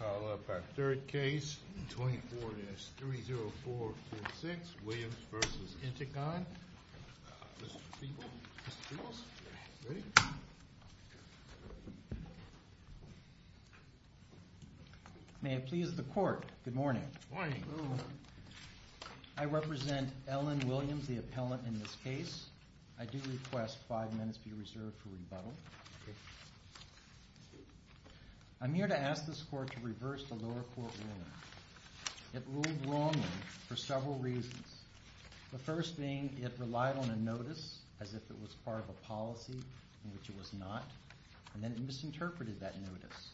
Call up our third case, 24-30446, Williams v. Integon. Mr. Peebles? Mr. Peebles? Ready? May it please the court, good morning. Good morning. I represent Ellen Williams, the appellant in this case. I do request five minutes be reserved for rebuttal. I'm here to ask this court to reverse the lower court ruling. It ruled wrongly for several reasons. The first being it relied on a notice as if it was part of a policy, in which it was not, and then it misinterpreted that notice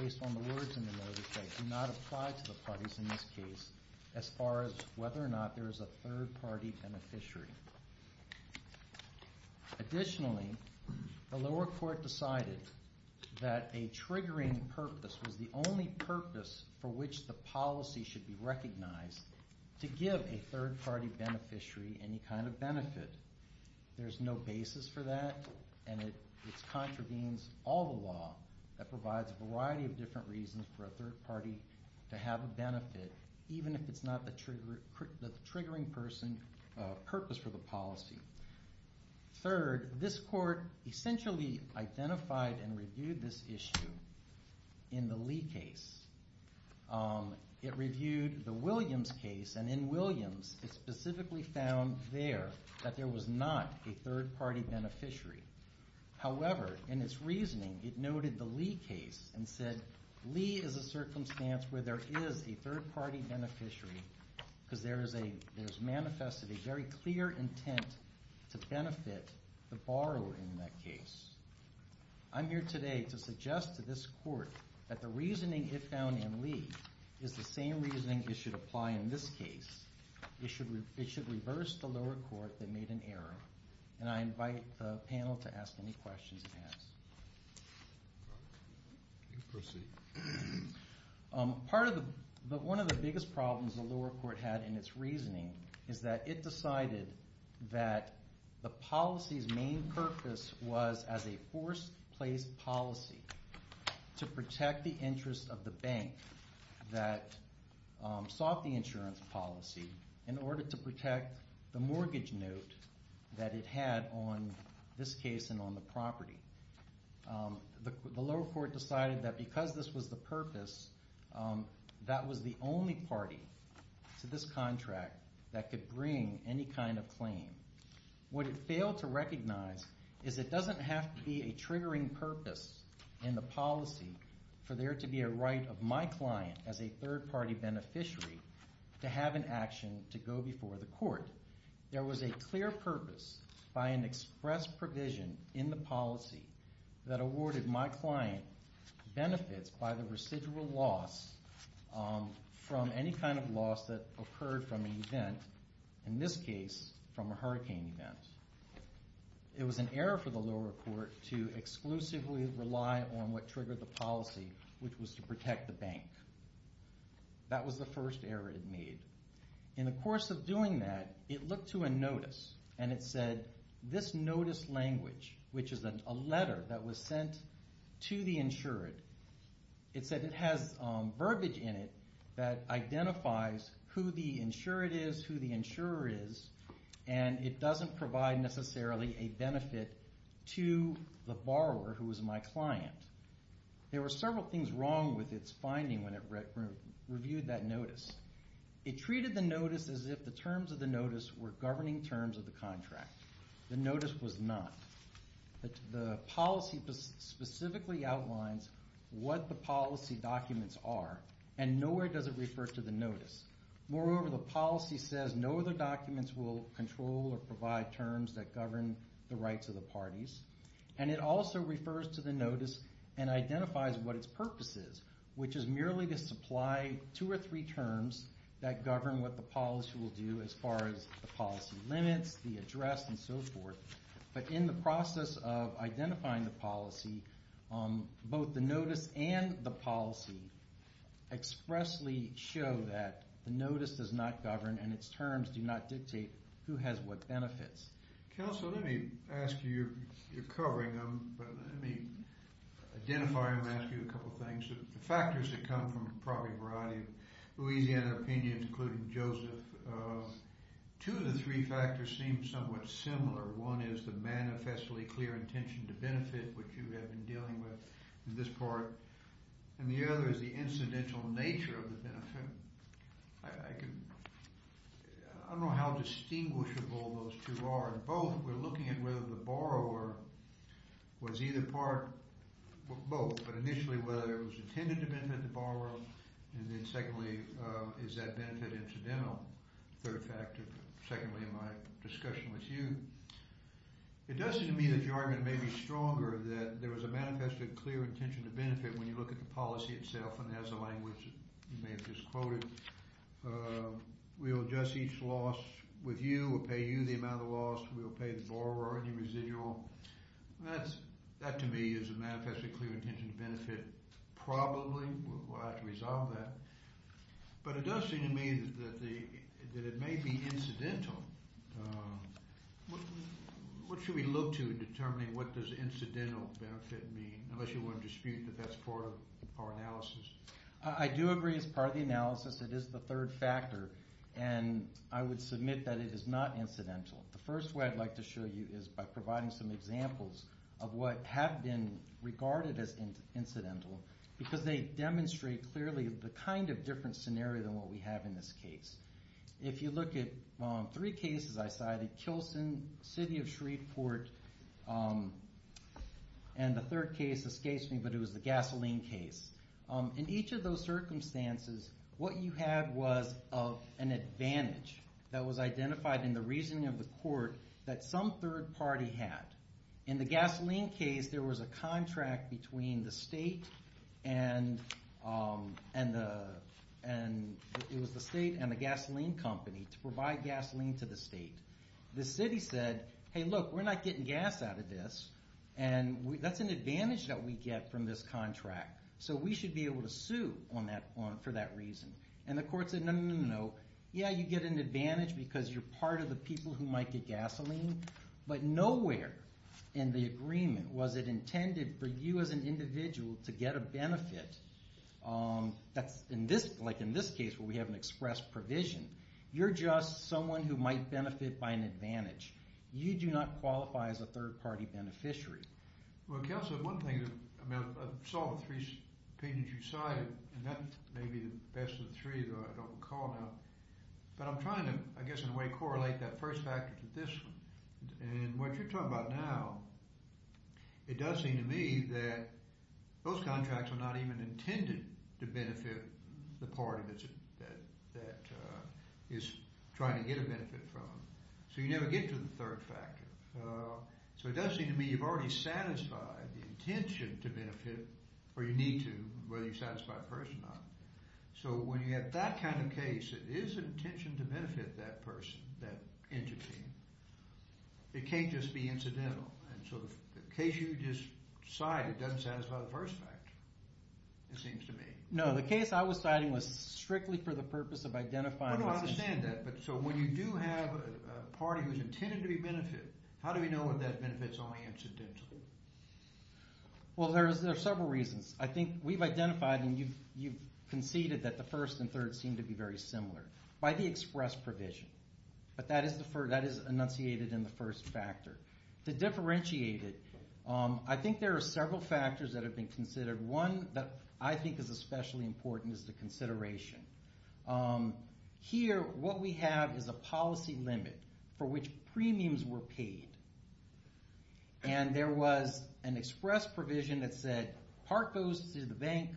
based on the words in the notice that do not apply to the parties in this case as far as whether or not there is a third party beneficiary. Additionally, the lower court decided that a triggering purpose was the only purpose for which the policy should be recognized to give a third party beneficiary any kind of benefit. There's no basis for that, and it contravenes all the law that provides a variety of different reasons for a third party to have a benefit, even if it's not the triggering purpose for the policy. Third, this court essentially identified and reviewed this issue in the Lee case. It reviewed the Williams case, and in Williams it specifically found there that there was not a third party beneficiary. However, in its reasoning, it noted the Lee case and said, Lee is a circumstance where there is a third party beneficiary because there's manifested a very clear intent to benefit the borrower in that case. I'm here today to suggest to this court that the reasoning it found in Lee is the same reasoning it should apply in this case. It should reverse the lower court that made an error, and I invite the panel to ask any questions it has. Proceed. One of the biggest problems the lower court had in its reasoning is that it decided that the policy's main purpose was as a forced place policy to protect the interest of the bank that sought the insurance policy in order to protect the mortgage note that it had on this case and on the property. The lower court decided that because this was the purpose, that was the only party to this contract that could bring any kind of claim. What it failed to recognize is it doesn't have to be a triggering purpose in the policy for there to be a right of my client as a third party beneficiary to have an action to go before the court. There was a clear purpose by an express provision in the policy that awarded my client benefits by the residual loss from any kind of loss that occurred from an event, in this case from a hurricane event. It was an error for the lower court to exclusively rely on what triggered the policy, which was to protect the bank. That was the first error it made. In the course of doing that, it looked to a notice and it said, this notice language, which is a letter that was sent to the insured, it said it has verbiage in it that identifies who the insured is, who the insurer is, and it doesn't provide necessarily a benefit to the borrower who was my client. There were several things wrong with its finding when it reviewed that notice. It treated the notice as if the terms of the notice were governing terms of the contract. The notice was not. The policy specifically outlines what the policy documents are, and nowhere does it refer to the notice. Moreover, the policy says no other documents will control or provide terms that govern the rights of the parties, and it also refers to the notice and identifies what its purpose is, which is merely to supply two or three terms that govern what the policy will do as far as the policy limits, the address, and so forth. But in the process of identifying the policy, both the notice and the policy expressly show that the notice does not govern and its terms do not dictate who has what benefits. Counsel, let me ask you, you're covering them, but let me identify them and ask you a couple of things. The factors that come from probably a variety of Louisiana opinions, including Joseph, two of the three factors seem somewhat similar. One is the manifestly clear intention to benefit, which you have been dealing with in this part, and the other is the incidental nature of the benefit. I don't know how distinguishable those two are. In both, we're looking at whether the borrower was either part, both, but initially whether it was intended to benefit the borrower, and then secondly, is that benefit incidental? Third factor, secondly, in my discussion with you. It does seem to me that your argument may be stronger that there was a manifestly clear intention to benefit when you look at the policy itself, and as the language you may have just quoted, we'll adjust each loss with you, we'll pay you the amount of loss, we'll pay the borrower any residual. That to me is a manifestly clear intention to benefit probably. We'll have to resolve that. But it does seem to me that it may be incidental. What should we look to in determining what does incidental benefit mean, unless you want to dispute that that's part of our analysis? I do agree it's part of the analysis. It is the third factor, and I would submit that it is not incidental. The first way I'd like to show you is by providing some examples of what have been regarded as incidental, because they demonstrate clearly the kind of different scenario than what we have in this case. If you look at three cases I cited, Kilson, City of Shreveport, and the third case escapes me, but it was the gasoline case. In each of those circumstances, what you had was an advantage that was identified in the reasoning of the court that some third party had. In the gasoline case, there was a contract between the state and the gasoline company to provide gasoline to the state. The city said, hey, look, we're not getting gas out of this, and that's an advantage that we get from this contract. So we should be able to sue for that reason. And the court said, no, no, no, no. Yeah, you get an advantage because you're part of the people who might get gasoline, but nowhere in the agreement was it intended for you as an individual to get a benefit. Like in this case where we have an express provision, you're just someone who might benefit by an advantage. You do not qualify as a third party beneficiary. Well, Kelso, one thing, I saw the three opinions you cited, and that may be the best of the three, though I don't recall now. But I'm trying to, I guess in a way, correlate that first factor to this one. And what you're talking about now, it does seem to me that those contracts are not even intended to benefit the party that it's trying to get a benefit from. So you never get to the third factor. So it does seem to me you've already satisfied the intention to benefit, or you need to, whether you satisfy a person or not. So when you have that kind of case, it is an intention to benefit that person, that entity. It can't just be incidental. And so if the case you just cited doesn't satisfy the first factor, it seems to me. No, the case I was citing was strictly for the purpose of identifying No, no, I understand that. So when you do have a party who's intended to be benefited, how do we know if that benefit is only incidental? Well, there are several reasons. I think we've identified, and you've conceded that the first and third seem to be very similar by the express provision. But that is enunciated in the first factor. To differentiate it, I think there are several factors that have been considered. One that I think is especially important is the consideration. Here, what we have is a policy limit for which premiums were paid. And there was an express provision that said part goes to the bank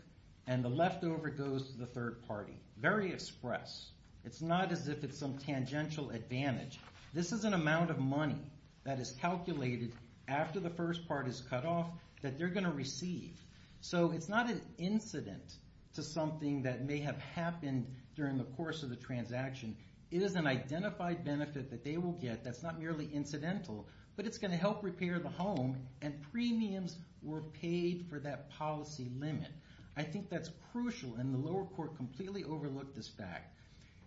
and the leftover goes to the third party. Very express. It's not as if it's some tangential advantage. This is an amount of money that is calculated after the first part is cut off that they're going to receive. So it's not an incident to something that may have happened during the course of the transaction. It is an identified benefit that they will get that's not merely incidental, but it's going to help repair the home, and premiums were paid for that policy limit. I think that's crucial, and the lower court completely overlooked this fact.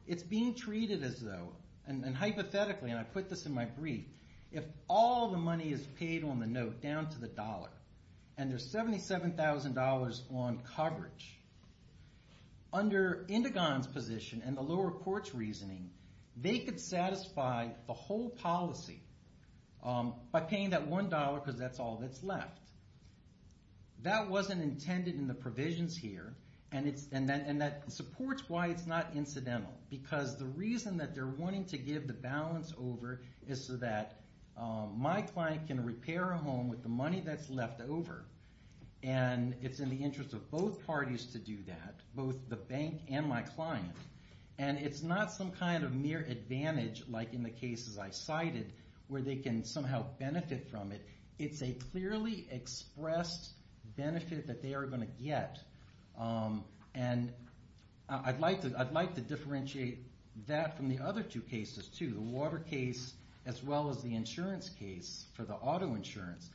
It's being treated as though, and hypothetically, and I put this in my brief, if all the money is paid on the note down to the dollar, and there's $77,000 on coverage, under Indigon's position and the lower court's reasoning, they could satisfy the whole policy by paying that $1 because that's all that's left. That wasn't intended in the provisions here, and that supports why it's not incidental, because the reason that they're wanting to give the balance over is so that my client can repair a home with the money that's left over, and it's in the interest of both parties to do that, both the bank and my client, and it's not some kind of mere advantage, like in the cases I cited, where they can somehow benefit from it. It's a clearly expressed benefit that they are going to get, and I'd like to differentiate that from the other two cases too. The water case as well as the insurance case for the auto insurance.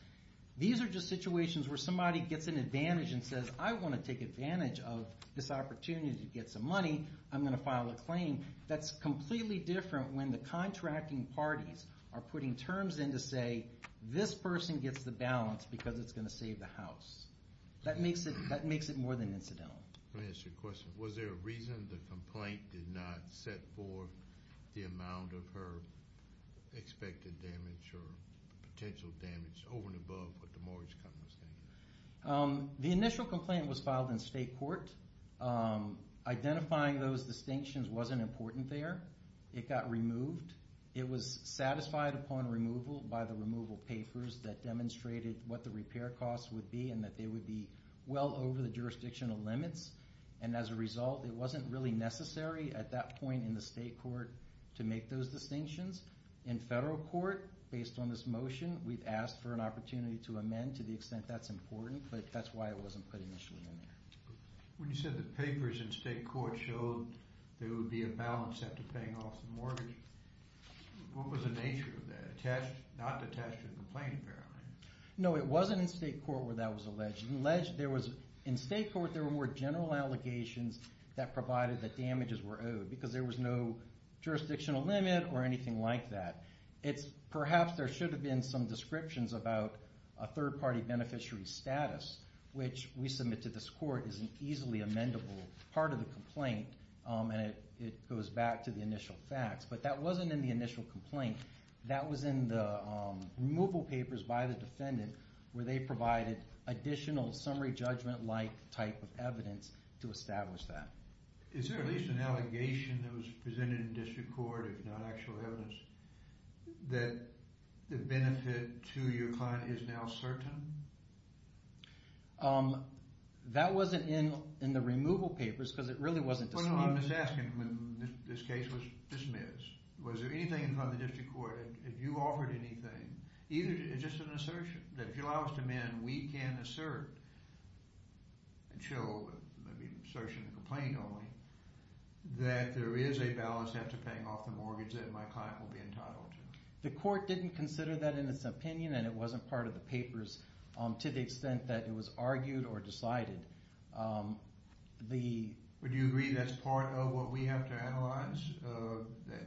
These are just situations where somebody gets an advantage and says, I want to take advantage of this opportunity to get some money, I'm going to file a claim. That's completely different when the contracting parties are putting terms in to say this person gets the balance because it's going to save the house. That makes it more than incidental. Let me ask you a question. Was there a reason the complaint did not set forth the amount of her expected damage or potential damage over and above what the mortgage company was saying? The initial complaint was filed in state court. Identifying those distinctions wasn't important there. It got removed. It was satisfied upon removal by the removal papers that demonstrated what the repair costs would be and that they would be well over the jurisdictional limits, and as a result, it wasn't really necessary at that point in the state court to make those distinctions. In federal court, based on this motion, we've asked for an opportunity to amend to the extent that's important, but that's why it wasn't put initially in there. When you said the papers in state court showed there would be a balance set to paying off the mortgage, what was the nature of that? Not attached to the complaint, apparently. No, it wasn't in state court where that was alleged. In state court, there were more general allegations that provided that damages were owed because there was no jurisdictional limit or anything like that. Perhaps there should have been some descriptions about a third-party beneficiary's status, which we submit to this court as an easily amendable part of the complaint, and it goes back to the initial facts, but that wasn't in the initial complaint. That was in the removal papers by the defendant where they provided additional summary judgment-like type of evidence to establish that. Is there at least an allegation that was presented in district court, if not actual evidence, that the benefit to your client is now certain? That wasn't in the removal papers because it really wasn't... Well, no, I'm just asking when this case was dismissed, was there anything in front of the district court, if you offered anything, either just an assertion, that if you allow us to amend, we can assert and show maybe an assertion in the complaint only, that there is a balance after paying off the mortgage that my client will be entitled to? The court didn't consider that in its opinion and it wasn't part of the papers to the extent that it was argued or decided. Would you agree that's part of what we have to analyze, that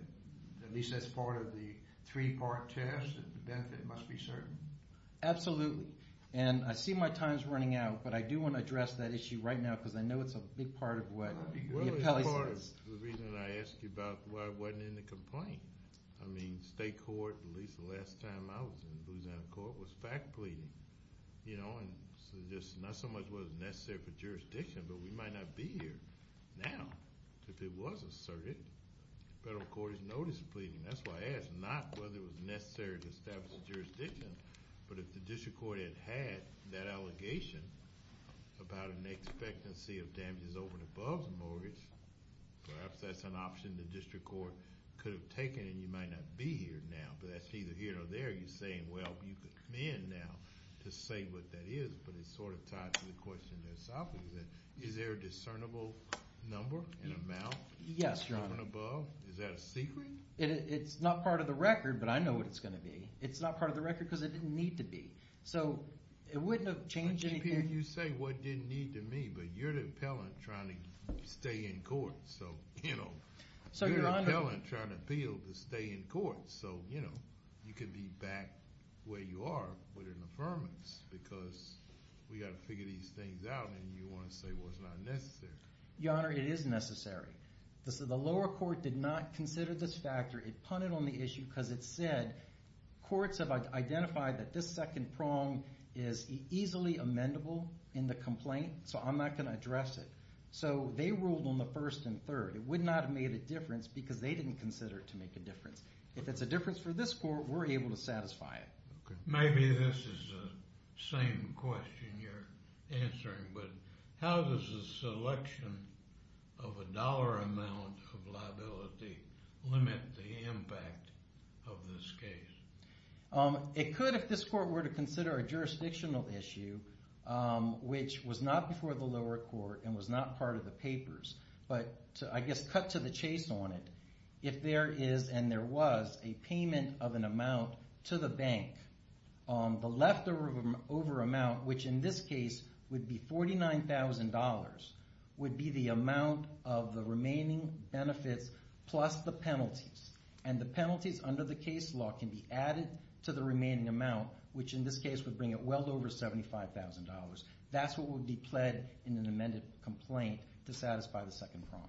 at least that's part of the three-part test, that the benefit must be certain? Absolutely. And I see my time's running out, but I do want to address that issue right now because I know it's a big part of what the appellee says. Well, it's part of the reason I asked you about why it wasn't in the complaint. I mean, state court, at least the last time I was in Louisiana court, was fact pleading. Not so much was it necessary for jurisdiction, but we might not be here now if it was asserted. Federal court is notice pleading. That's why I asked, not whether it was necessary to establish a jurisdiction, but if the district court had had that allegation about an expectancy of damages over and above the mortgage, perhaps that's an option the district court could have taken and you might not be here now. But that's either here or there. You're saying, well, you can come in now to say what that is, but it's sort of tied to the question that Asafa was asking. Is there a discernible number and amount? Yes, Your Honor. Is that a secret? It's not part of the record, but I know what it's going to be. It's not part of the record because it didn't need to be. So it wouldn't have changed anything. You say what didn't need to be, but you're the appellant trying to stay in court. So, you know, you're the appellant trying to appeal to stay in court. So, you know, you could be back where you are with an affirmance because we've got to figure these things out and you want to say, well, it's not necessary. Your Honor, it is necessary. The lower court did not consider this factor. It punted on the issue because it said courts have identified that this second prong is easily amendable in the complaint, so I'm not going to address it. So they ruled on the first and third. It would not have made a difference because they didn't consider it to make a difference. If it's a difference for this court, we're able to satisfy it. Okay. Maybe this is the same question you're answering, but how does the selection of a dollar amount of liability limit the impact of this case? It could if this court were to consider a jurisdictional issue which was not before the lower court and was not part of the papers, but I guess cut to the chase on it. If there is and there was a payment of an amount to the bank, the leftover amount, which in this case would be $49,000, would be the amount of the remaining benefits plus the penalties, and the penalties under the case law can be added to the remaining amount, which in this case would bring it well over $75,000. That's what would be pled in an amended complaint to satisfy the second prompt.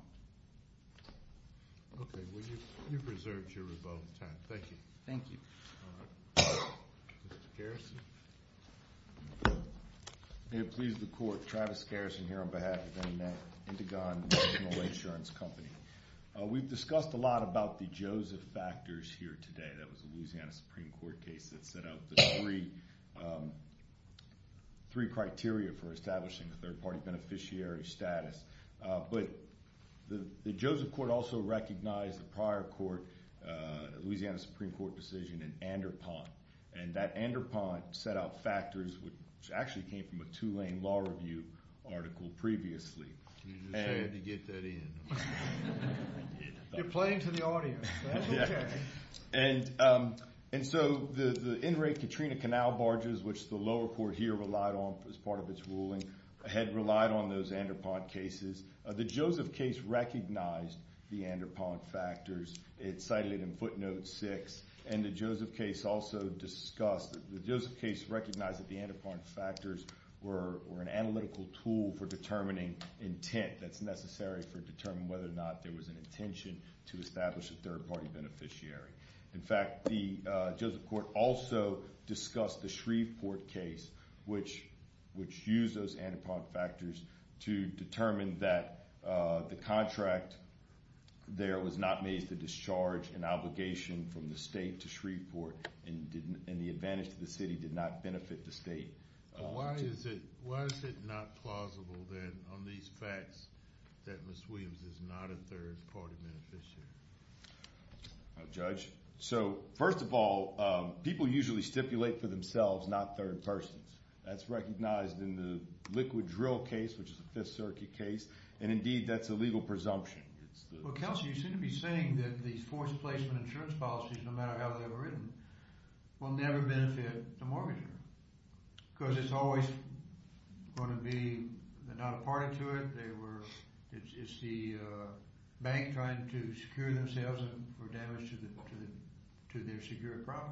Okay. Well, you've reserved your rebuttal time. Thank you. Thank you. All right. Mr. Garrison? May it please the court, Travis Garrison here on behalf of Indigon National Insurance Company. We've discussed a lot about the Joseph factors here today. That was a Louisiana Supreme Court case that set out the three criteria for establishing a third-party beneficiary status. But the Joseph court also recognized the prior court, the Louisiana Supreme Court decision in Anderpont, and that Anderpont set out factors which actually came from a Tulane Law Review article previously. You just had to get that in. You're playing to the audience. That's okay. And so the in-rate Katrina Canal barges, which the lower court here relied on as part of its ruling, had relied on those Anderpont cases. The Joseph case recognized the Anderpont factors. It cited it in footnote six. And the Joseph case also discussed, the Joseph case recognized that the Anderpont factors were an analytical tool for determining intent that's necessary for determining whether or not there was an intention to establish a third-party beneficiary. In fact, the Joseph court also discussed the Shreveport case, which used those Anderpont factors to determine that the contract there was not made to discharge an obligation from the state to Shreveport, and the advantage to the city did not benefit the state. Why is it not plausible then on these facts that Ms. Williams is not a third-party beneficiary? Judge? So first of all, people usually stipulate for themselves not third persons. That's recognized in the liquid drill case, which is a Fifth Circuit case, and indeed that's a legal presumption. Well, Kelsey, you seem to be saying that these forced placement insurance policies, no matter how they were written, will never benefit the mortgager because it's always going to be they're not a party to it. It's the bank trying to secure themselves for damage to their secured property.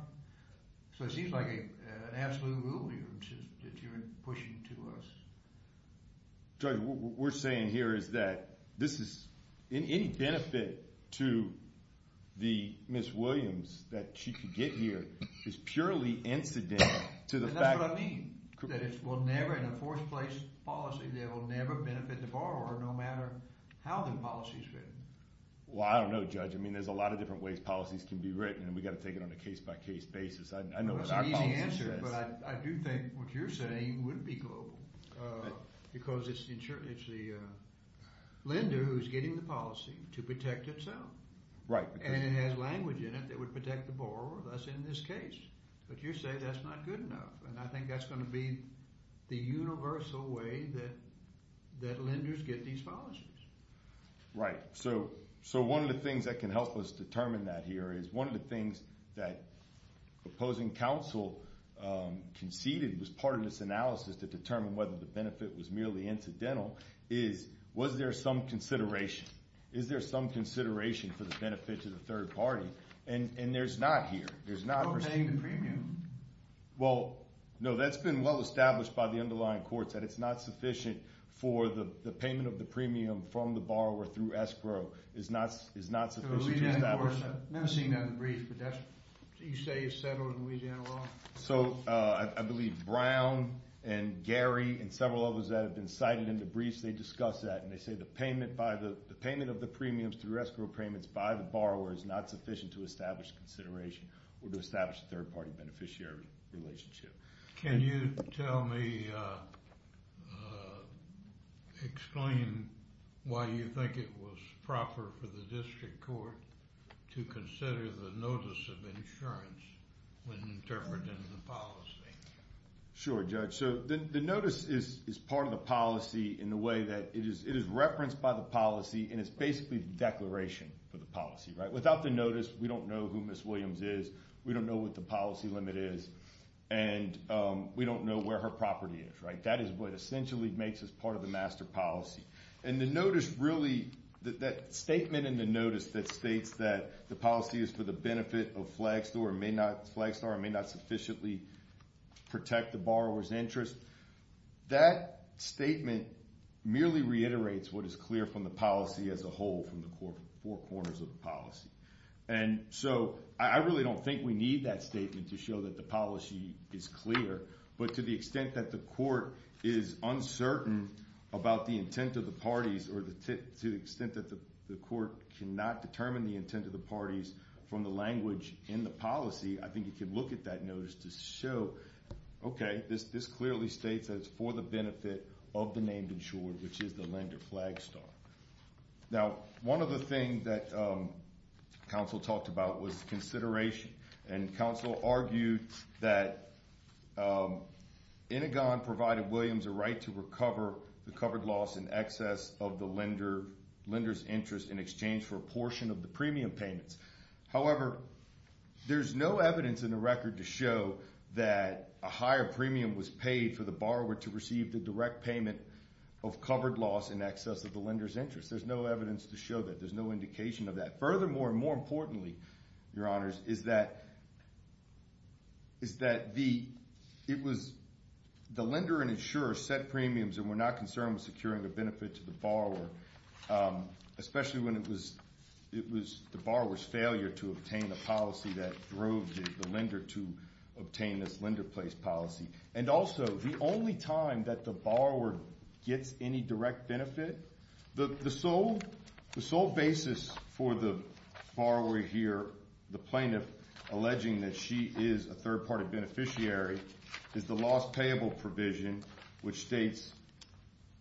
So it seems like an absolute rule here that you're pushing to us. Judge, what we're saying here is that this is – any benefit to the Ms. Williams that she could get here is purely incidental to the fact – And that's what I mean. – that it will never, in a forced place policy, that it will never benefit the borrower no matter how the policy is written. Well, I don't know, Judge. I mean, there's a lot of different ways policies can be written, and we've got to take it on a case-by-case basis. I know what our policy says. That's an easy answer, but I do think what you're saying would be global because it's the lender who's getting the policy to protect itself. Right. And it has language in it that would protect the borrower, thus in this case. But you say that's not good enough, and I think that's going to be the universal way that lenders get these policies. Right. So one of the things that can help us determine that here is one of the things that opposing counsel conceded was part of this analysis to determine whether the benefit was merely incidental is, was there some consideration? Is there some consideration for the benefit to the third party? And there's not here. There's no paying the premium. Well, no, that's been well established by the underlying courts that it's not sufficient for the payment of the premium from the borrower through escrow is not sufficient. I've never seen that in the brief, but you say it's settled in Louisiana law? So I believe Brown and Gary and several others that have been cited in the briefs, they discuss that, and they say the payment of the premiums through escrow payments by the borrower is not sufficient to establish consideration or to establish a third party beneficiary relationship. Can you tell me, explain why you think it was proper for the district court to consider the notice of insurance when interpreting the policy? Sure, Judge. So the notice is part of the policy in the way that it is referenced by the policy, and it's basically the declaration for the policy. Without the notice, we don't know who Ms. Williams is, we don't know what the policy limit is, and we don't know where her property is. That is what essentially makes us part of the master policy. And the notice really, that statement in the notice that states that the policy is for the benefit of Flagstore and may not sufficiently protect the borrower's interest, that statement merely reiterates what is clear from the policy as a whole from the four corners of the policy. And so I really don't think we need that statement to show that the policy is clear, but to the extent that the court is uncertain about the intent of the parties or to the extent that the court cannot determine the intent of the parties from the language in the policy, I think you can look at that notice to show, okay, this clearly states that it's for the benefit of the named insured, which is the lender, Flagstore. Now, one other thing that counsel talked about was consideration, and counsel argued that Intigon provided Williams a right to recover the covered loss in excess of the lender's interest in exchange for a portion of the premium payments. However, there's no evidence in the record to show that a higher premium was paid for the borrower to receive the direct payment of covered loss in excess of the lender's interest. There's no evidence to show that. There's no indication of that. Furthermore, and more importantly, Your Honors, is that the lender and insurer set premiums and were not concerned with securing a benefit to the borrower, especially when it was the borrower's failure to obtain the policy that drove the lender to obtain this lender place policy. And also, the only time that the borrower gets any direct benefit, the sole basis for the borrower here, the plaintiff alleging that she is a third-party beneficiary, is the loss payable provision, which states,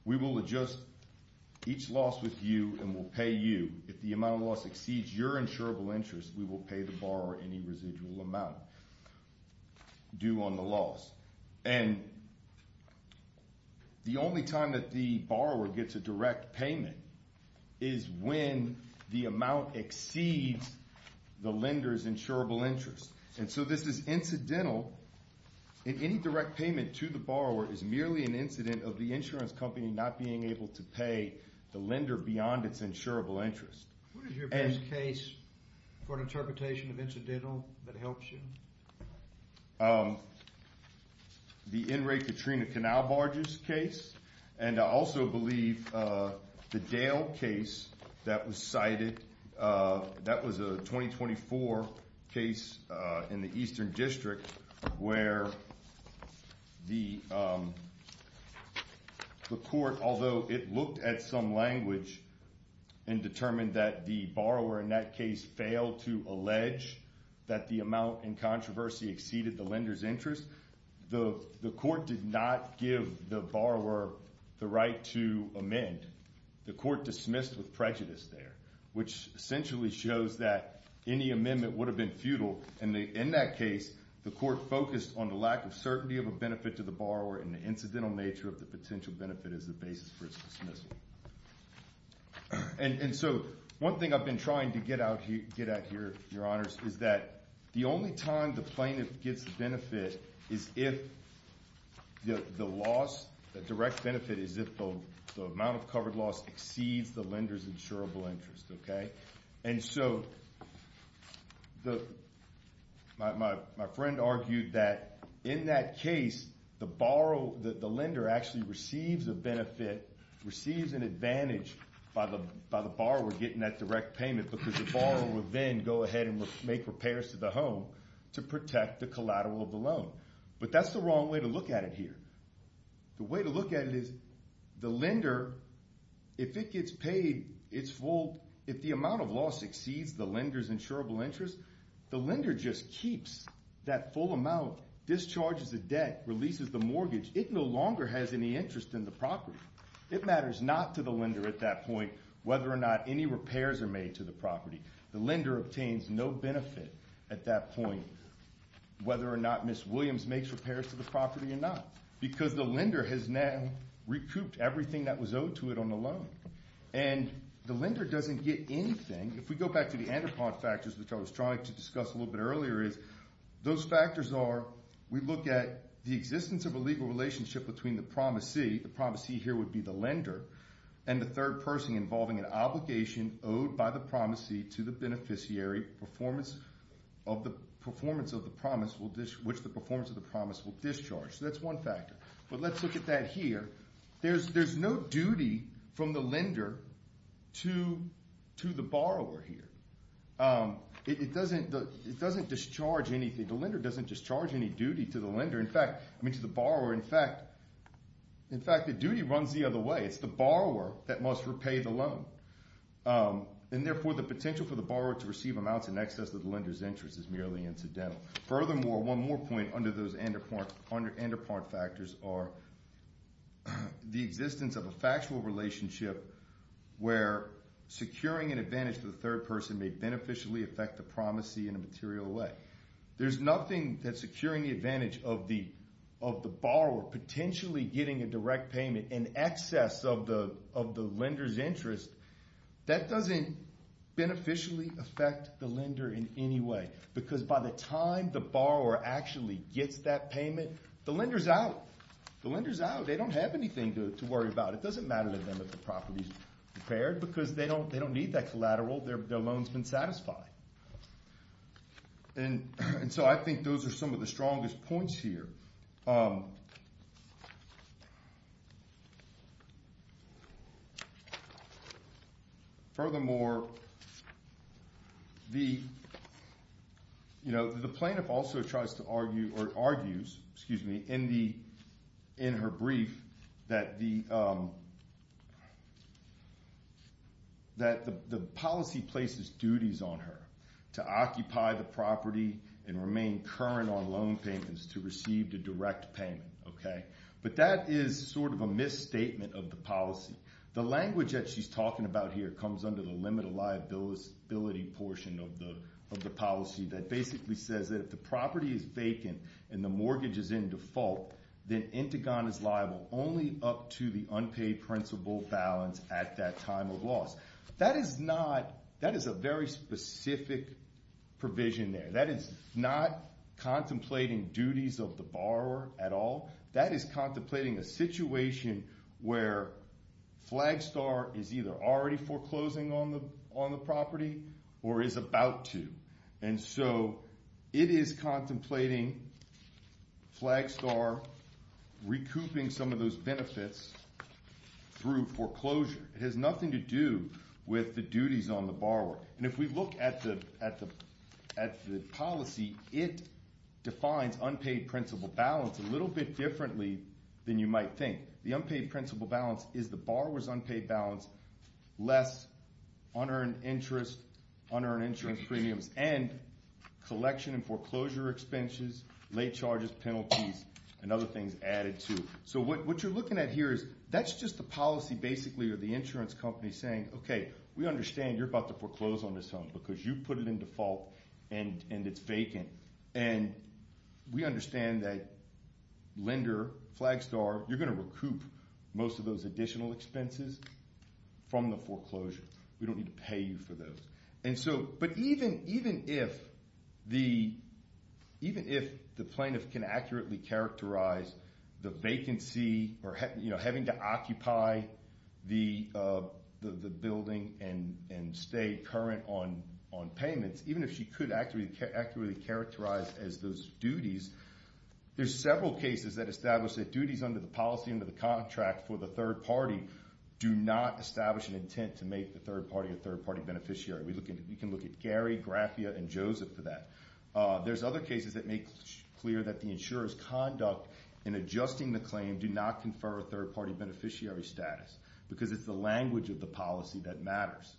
We will adjust each loss with you and will pay you. If the amount of loss exceeds your insurable interest, we will pay the borrower any residual amount due on the loss. And the only time that the borrower gets a direct payment is when the amount exceeds the lender's insurable interest. And so this is incidental. Any direct payment to the borrower is merely an incident of the insurance company not being able to pay the lender beyond its insurable interest. What is your best case for an interpretation of incidental that helps you? The in-rate Katrina Canal barges case. And I also believe the Dale case that was cited, that was a 2024 case in the Eastern District where the court, although it looked at some language and determined that the borrower in that case failed to allege that the amount in controversy exceeded the lender's interest, the court did not give the borrower the right to amend. The court dismissed with prejudice there, which essentially shows that any amendment would have been futile. And in that case, the court focused on the lack of certainty of a benefit to the borrower and the incidental nature of the potential benefit as the basis for its dismissal. And so one thing I've been trying to get at here, Your Honors, is that the only time the plaintiff gets the benefit is if the loss, the direct benefit is if the amount of covered loss exceeds the lender's insurable interest. And so my friend argued that in that case, the lender actually receives a benefit, receives an advantage by the borrower getting that direct payment because the borrower would then go ahead and make repairs to the home to protect the collateral of the loan. But that's the wrong way to look at it here. The way to look at it is the lender, if it gets paid its full, if the amount of loss exceeds the lender's insurable interest, the lender just keeps that full amount, discharges the debt, releases the mortgage. It no longer has any interest in the property. It matters not to the lender at that point whether or not any repairs are made to the property. The lender obtains no benefit at that point whether or not Ms. Williams makes repairs to the property or not because the lender has now recouped everything that was owed to it on the loan. And the lender doesn't get anything. If we go back to the andropod factors, which I was trying to discuss a little bit earlier, those factors are we look at the existence of a legal relationship between the promisee, the promisee here would be the lender, and the third person involving an obligation owed by the promisee to the beneficiary of the performance of the promise which the performance of the promise will discharge. So that's one factor. But let's look at that here. There's no duty from the lender to the borrower here. It doesn't discharge anything. The lender doesn't discharge any duty to the borrower. In fact, the duty runs the other way. It's the borrower that must repay the loan. And therefore, the potential for the borrower to receive amounts in excess of the lender's interest is merely incidental. Furthermore, one more point under those andropod factors are the existence of a factual relationship where securing an advantage to the third person may beneficially affect the promisee in a material way. There's nothing that securing the advantage of the borrower, potentially getting a direct payment in excess of the lender's interest, that doesn't beneficially affect the lender in any way because by the time the borrower actually gets that payment, the lender's out. The lender's out. They don't have anything to worry about. It doesn't matter to them if the property's repaired because they don't need that collateral. Their loan's been satisfied. And so I think those are some of the strongest points here. Furthermore, the plaintiff also tries to argue or argues, excuse me, in her brief that the policy places duties on her to occupy the property and remain current on loan payments to receive the direct payment. But that is sort of a misstatement of the policy. The language that she's talking about here comes under the limit of liability portion of the policy that basically says that if the property is vacant and the mortgage is in default, then Intigon is liable only up to the unpaid principal balance at that time of loss. That is a very specific provision there. That is not contemplating duties of the borrower at all. That is contemplating a situation where Flagstar is either already foreclosing on the property or is about to. And so it is contemplating Flagstar recouping some of those benefits through foreclosure. It has nothing to do with the duties on the borrower. And if we look at the policy, it defines unpaid principal balance a little bit differently than you might think. The unpaid principal balance is the borrower's unpaid balance, less unearned interest, unearned insurance premiums, and collection and foreclosure expenses, late charges, penalties, and other things added too. So what you're looking at here is that's just the policy basically of the insurance company saying, okay, we understand you're about to foreclose on this home because you put it in default and it's vacant. And we understand that lender, Flagstar, you're going to recoup most of those additional expenses from the foreclosure. We don't need to pay you for those. But even if the plaintiff can accurately characterize the vacancy or having to occupy the building and stay current on payments, even if she could accurately characterize as those duties, there's several cases that establish that duties under the policy, under the contract for the third party, do not establish an intent to make the third party a third-party beneficiary. We can look at Gary, Grafia, and Joseph for that. There's other cases that make clear that the insurer's conduct in adjusting the claim do not confer a third-party beneficiary status because it's the language of the policy that matters.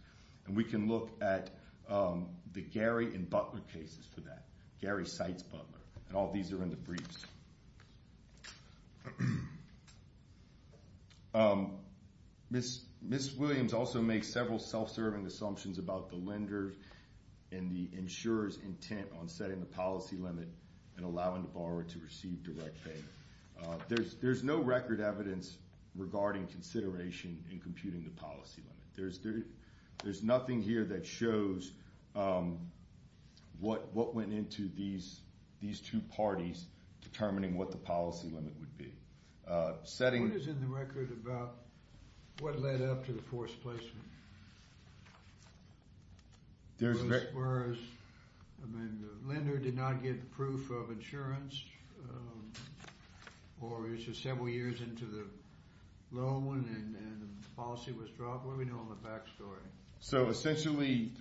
And we can look at the Gary and Butler cases for that. Gary cites Butler, and all these are in the briefs. Ms. Williams also makes several self-serving assumptions about the lender and the insurer's intent on setting the policy limit and allowing the borrower to receive direct payment. There's no record evidence regarding consideration in computing the policy limit. There's nothing here that shows what went into these two parties determining what the policy limit would be. What is in the record about what led up to the forced placement? I mean, the lender did not get proof of insurance, or it was just several years into the loan, and the policy was dropped. What do we know on the back story? So, essentially,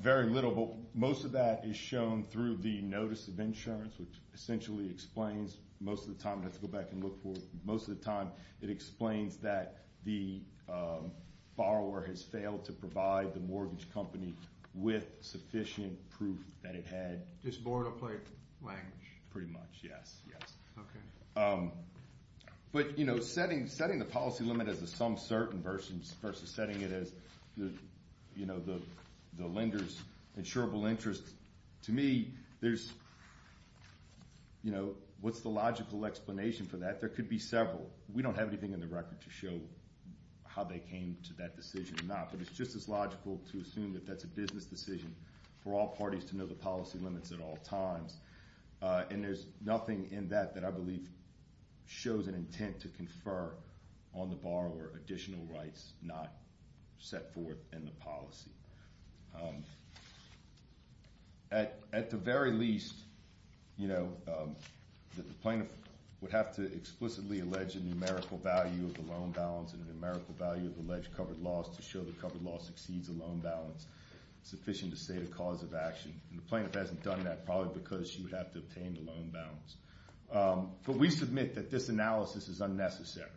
very little, but most of that is shown through the notice of insurance, which essentially explains most of the time—let's go back and look for it—most of the time, it explains that the borrower has failed to provide the mortgage company with sufficient proof that it had— Just borrowed a plate language. Pretty much, yes. Okay. But, you know, setting the policy limit as a some certain versus setting it as the lender's insurable interest, to me, there's—you know, what's the logical explanation for that? There could be several. We don't have anything in the record to show how they came to that decision or not, but it's just as logical to assume that that's a business decision for all parties to know the policy limits at all times, and there's nothing in that that I believe shows an intent to confer on the borrower additional rights not set forth in the policy. At the very least, you know, the plaintiff would have to explicitly allege a numerical value of the loan balance and a numerical value of the alleged covered loss to show the covered loss exceeds the loan balance sufficient to state a cause of action, and the plaintiff hasn't done that probably because she would have to obtain the loan balance. But we submit that this analysis is unnecessary,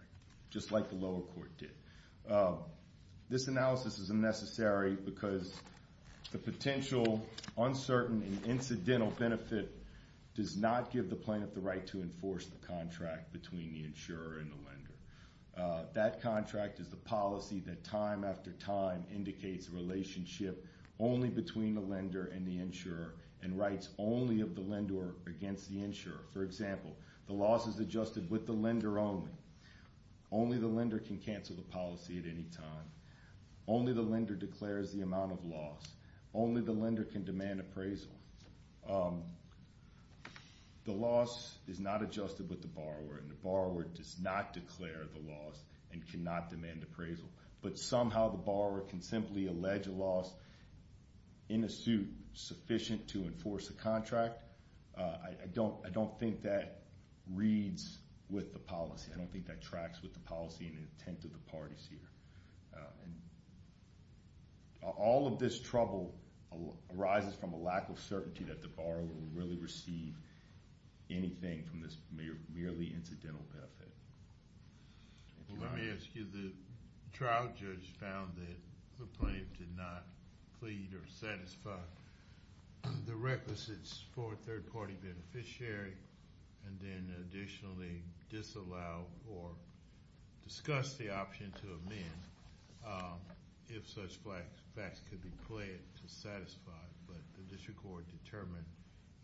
just like the lower court did. This analysis is unnecessary because the potential uncertain and incidental benefit does not give the plaintiff the right to enforce the contract between the insurer and the lender. That contract is the policy that time after time indicates a relationship only between the lender and the insurer and rights only of the lender against the insurer. For example, the loss is adjusted with the lender only. Only the lender can cancel the policy at any time. Only the lender declares the amount of loss. Only the lender can demand appraisal. The loss is not adjusted with the borrower, and the borrower does not declare the loss and cannot demand appraisal. But somehow the borrower can simply allege a loss in a suit sufficient to enforce a contract. I don't think that reads with the policy. I don't think that tracks with the policy and intent of the parties here. All of this trouble arises from a lack of certainty that the borrower will really receive anything from this merely incidental benefit. Let me ask you. The trial judge found that the plaintiff did not plead or satisfy the requisites for a third-party beneficiary and then additionally disallowed or discussed the option to amend if such facts could be pled to satisfy. But the district court determined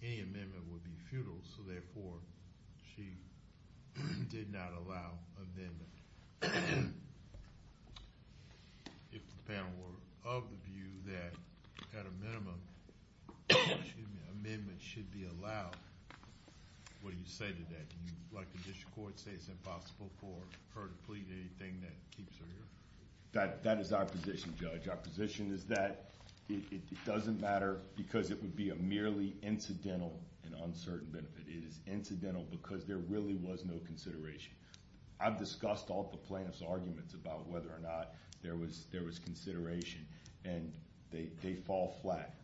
any amendment would be futile, so therefore she did not allow amendment. If the panel were of the view that at a minimum an amendment should be allowed, what do you say to that? Would you like the district court to say it's impossible for her to plead anything that keeps her here? That is our position, Judge. Our position is that it doesn't matter because it would be a merely incidental and uncertain benefit. It is incidental because there really was no consideration. I've discussed all the plaintiff's arguments about whether or not there was consideration, and they fall flat.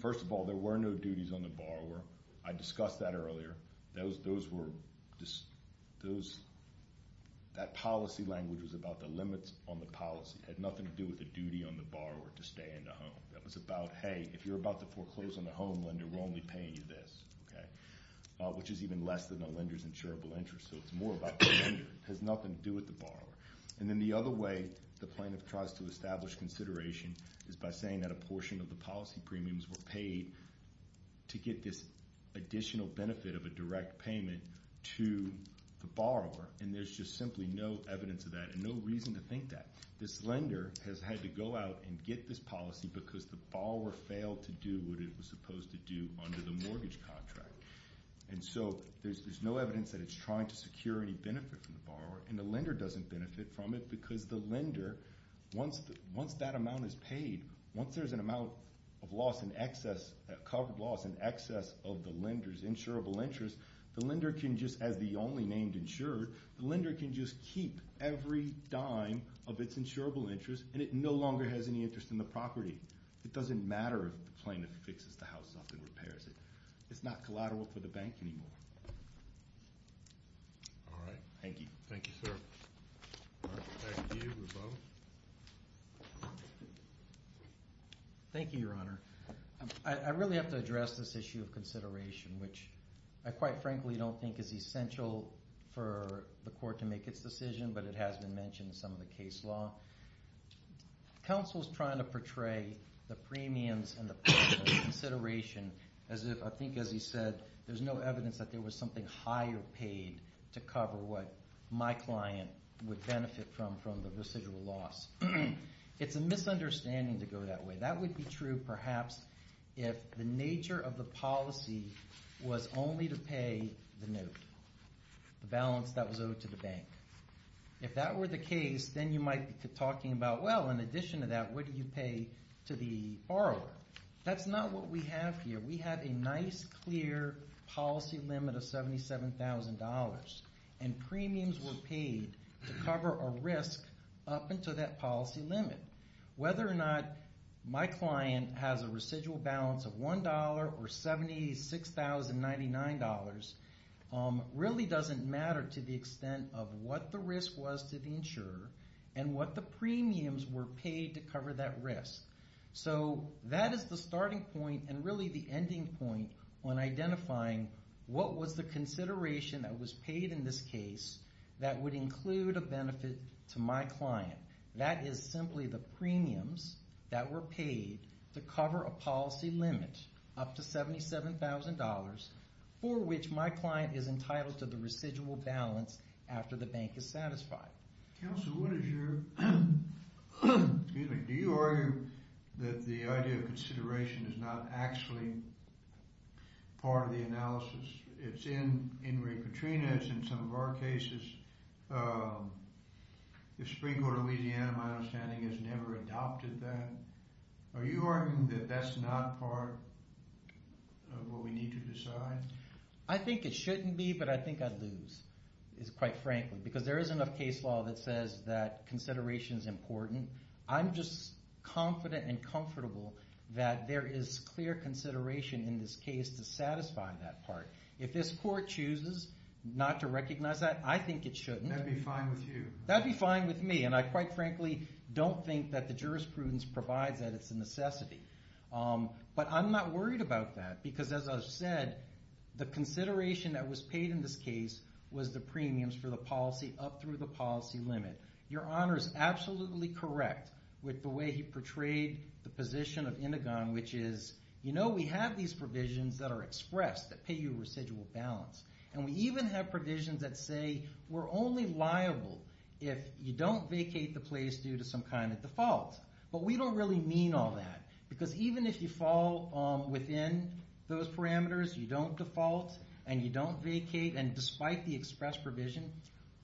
First of all, there were no duties on the borrower. I discussed that earlier. That policy language was about the limits on the policy. It had nothing to do with the duty on the borrower to stay in the home. That was about, hey, if you're about to foreclose on the home lender, we're only paying you this, which is even less than the lender's insurable interest, so it's more about the lender. It has nothing to do with the borrower. And then the other way the plaintiff tries to establish consideration is by saying that a portion of the policy premiums were paid to get this additional benefit of a direct payment to the borrower, and there's just simply no evidence of that and no reason to think that. This lender has had to go out and get this policy because the borrower failed to do what it was supposed to do under the mortgage contract. And so there's no evidence that it's trying to secure any benefit from the borrower, and the lender doesn't benefit from it because the lender, once that amount is paid, once there's an amount of loss in excess, covered loss in excess of the lender's insurable interest, the lender can just, as the only named insured, the lender can just keep every dime of its insurable interest, and it no longer has any interest in the property. It doesn't matter if the plaintiff fixes the house up and repairs it. It's not collateral for the bank anymore. All right. Thank you. Thank you, sir. Thank you. We're both. Thank you, Your Honor. I really have to address this issue of consideration, which I quite frankly don't think is essential for the court to make its decision, but it has been mentioned in some of the case law. Counsel's trying to portray the premiums and the cost of consideration as if, I think as he said, there's no evidence that there was something higher paid to cover what my client would benefit from from the residual loss. It's a misunderstanding to go that way. That would be true perhaps if the nature of the policy was only to pay the note, the balance that was owed to the bank. If that were the case, then you might be talking about, well, in addition to that, what do you pay to the borrower? That's not what we have here. We have a nice, clear policy limit of $77,000, and premiums were paid to cover a risk up until that policy limit. Whether or not my client has a residual balance of $1 or $76,099 really doesn't matter to the extent of what the risk was to the insurer and what the premiums were paid to cover that risk. That is the starting point and really the ending point on identifying what was the consideration that was paid in this case that would include a benefit to my client. That is simply the premiums that were paid to cover a policy limit up to $77,000 for which my client is entitled to the residual balance after the bank is satisfied. Counsel, do you argue that the idea of consideration is not actually part of the analysis? It's in Ingrid Katrina. It's in some of our cases. The Supreme Court of Louisiana, my understanding, has never adopted that. Are you arguing that that's not part of what we need to decide? I think it shouldn't be, but I think I'd lose, quite frankly, because there isn't a case law that says that consideration is important. I'm just confident and comfortable that there is clear consideration in this case to satisfy that part. If this court chooses not to recognize that, I think it shouldn't. That would be fine with you. That would be fine with me, and I quite frankly don't think that the jurisprudence provides that as a necessity. I'm not worried about that because, as I've said, the consideration that was paid in this case was the premiums for the policy up through the policy limit. Your Honor is absolutely correct with the way he portrayed the position of Indigon, which is we have these provisions that are expressed that pay you residual balance. We even have provisions that say we're only liable if you don't vacate the place due to some kind of default. But we don't really mean all that, because even if you fall within those parameters, you don't default and you don't vacate, and despite the express provision,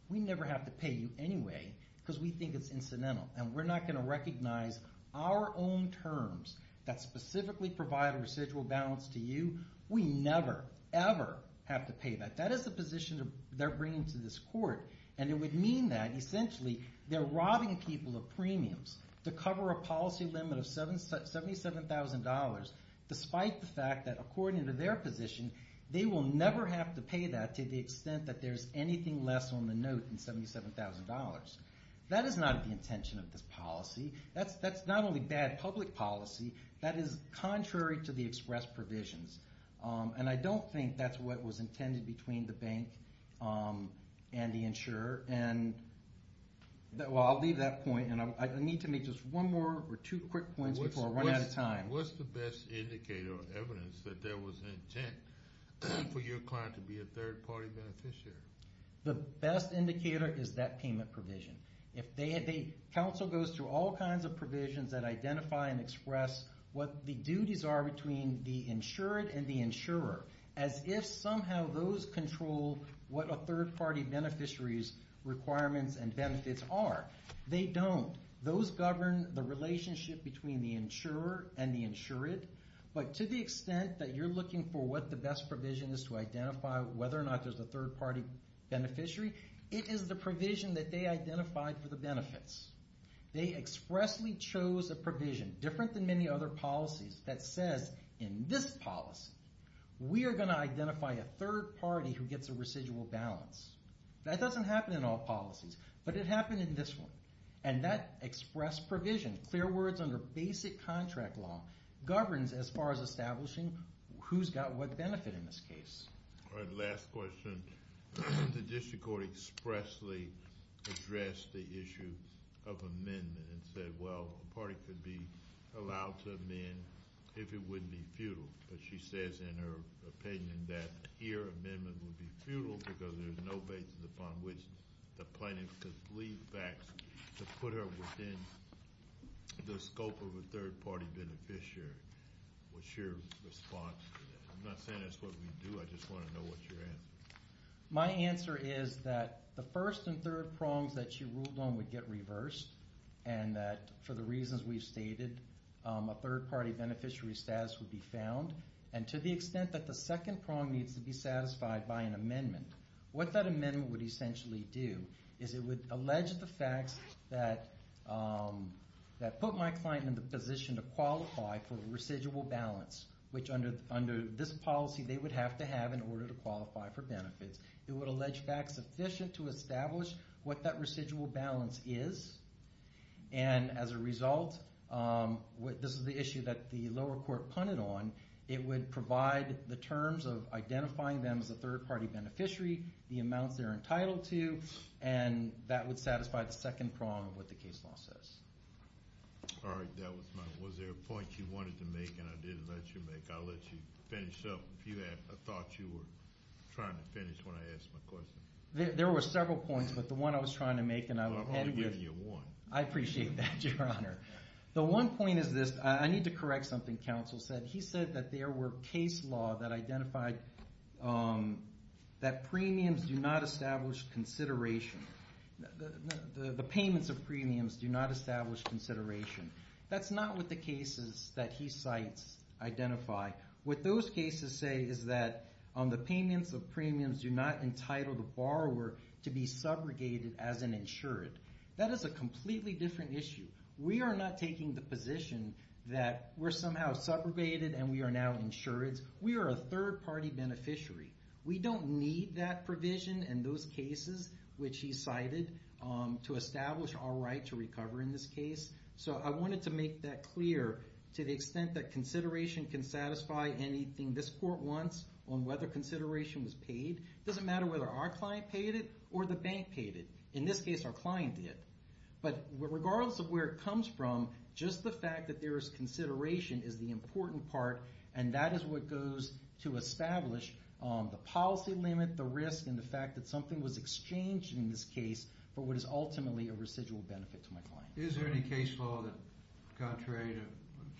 we never have to pay you anyway because we think it's incidental, and we're not going to recognize our own terms that specifically provide a residual balance to you. We never, ever have to pay that. That is the position they're bringing to this court, and it would mean that, essentially, they're robbing people of premiums to cover a policy limit of $77,000, despite the fact that, according to their position, they will never have to pay that to the extent that there's anything less on the note than $77,000. That is not the intention of this policy. That's not only bad public policy. That is contrary to the express provisions, and I don't think that's what was intended between the bank and the insurer. Well, I'll leave that point, and I need to make just one more or two quick points before I run out of time. What's the best indicator or evidence that there was an intent for your client to be a third-party beneficiary? The best indicator is that payment provision. Council goes through all kinds of provisions that identify and express what the duties are between the insured and the insurer, as if somehow those control what a third-party beneficiary's requirements and benefits are. They don't. Those govern the relationship between the insurer and the insured, but to the extent that you're looking for what the best provision is to identify whether or not there's a third-party beneficiary, it is the provision that they identified for the benefits. They expressly chose a provision, different than many other policies, that says, in this policy, we are going to identify a third-party who gets a residual balance. That doesn't happen in all policies, but it happened in this one, and that express provision, clear words under basic contract law, governs as far as establishing who's got what benefit in this case. All right, last question. The district court expressly addressed the issue of amendment and said, well, a party could be allowed to amend if it wouldn't be futile, but she says in her opinion that here amendment would be futile because there's no basis upon which the plaintiff could leave facts to put her within the scope of a third-party beneficiary. What's your response to that? I'm not saying that's what we do. I just want to know what your answer is. My answer is that the first and third prongs that she ruled on would get reversed and that for the reasons we've stated, a third-party beneficiary status would be found, and to the extent that the second prong needs to be satisfied by an amendment, what that amendment would essentially do is it would allege the facts that put my client in the position to qualify for residual balance, which under this policy they would have to have in order to qualify for benefits. It would allege facts sufficient to establish what that residual balance is, and as a result, this is the issue that the lower court punted on, it would provide the terms of identifying them as a third-party beneficiary, the amounts they're entitled to, and that would satisfy the second prong of what the case law says. All right. Was there a point you wanted to make and I didn't let you make? I'll let you finish up. I thought you were trying to finish when I asked my question. There were several points, but the one I was trying to make and I was ahead with. I'll give you one. I appreciate that, Your Honor. The one point is this. I need to correct something counsel said. He said that there were case law that identified that premiums do not establish consideration. The payments of premiums do not establish consideration. That's not what the cases that he cites identify. What those cases say is that the payments of premiums do not entitle the borrower to be subrogated as an insured. That is a completely different issue. We are not taking the position that we're somehow subrogated and we are now insured. We are a third-party beneficiary. We don't need that provision in those cases, which he cited, to establish our right to recover in this case. I wanted to make that clear to the extent that consideration can satisfy anything this court wants on whether consideration was paid. It doesn't matter whether our client paid it or the bank paid it. In this case, our client did. Regardless of where it comes from, just the fact that there is consideration is the important part. That is what goes to establish the policy limit, the risk, and the fact that something was exchanged in this case for what is ultimately a residual benefit to my client. Is there any case law that, contrary to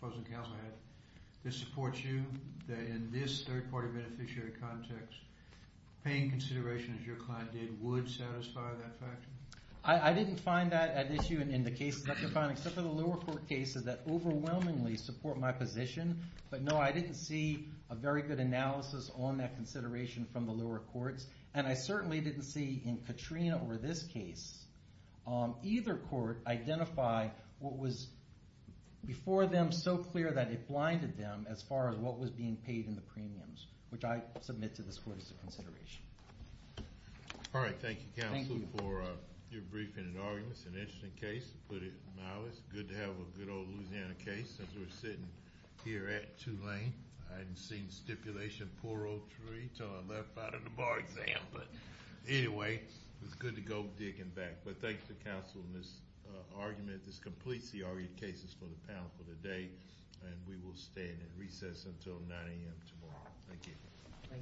what the counselor had, that supports you, that in this third-party beneficiary context, paying consideration as your client did would satisfy that factor? I didn't find that an issue in the cases that you're finding, except for the lower court cases that overwhelmingly support my position. But, no, I didn't see a very good analysis on that consideration from the lower courts. And I certainly didn't see, in Katrina or this case, either court identify what was before them so clear that it blinded them as far as what was being paid in the premiums, which I submit to this court as a consideration. All right. Thank you, counsel, for your briefing and arguments. An interesting case, to put it mildly. It's good to have a good old Louisiana case, since we're sitting here at Tulane. I hadn't seen stipulation, poor old tree, until I left out of the bar exam. But, anyway, it's good to go digging back. But thanks to counsel and this argument. This completes the argued cases for the panel for the day, and we will stand at recess until 9 a.m. tomorrow. Thank you.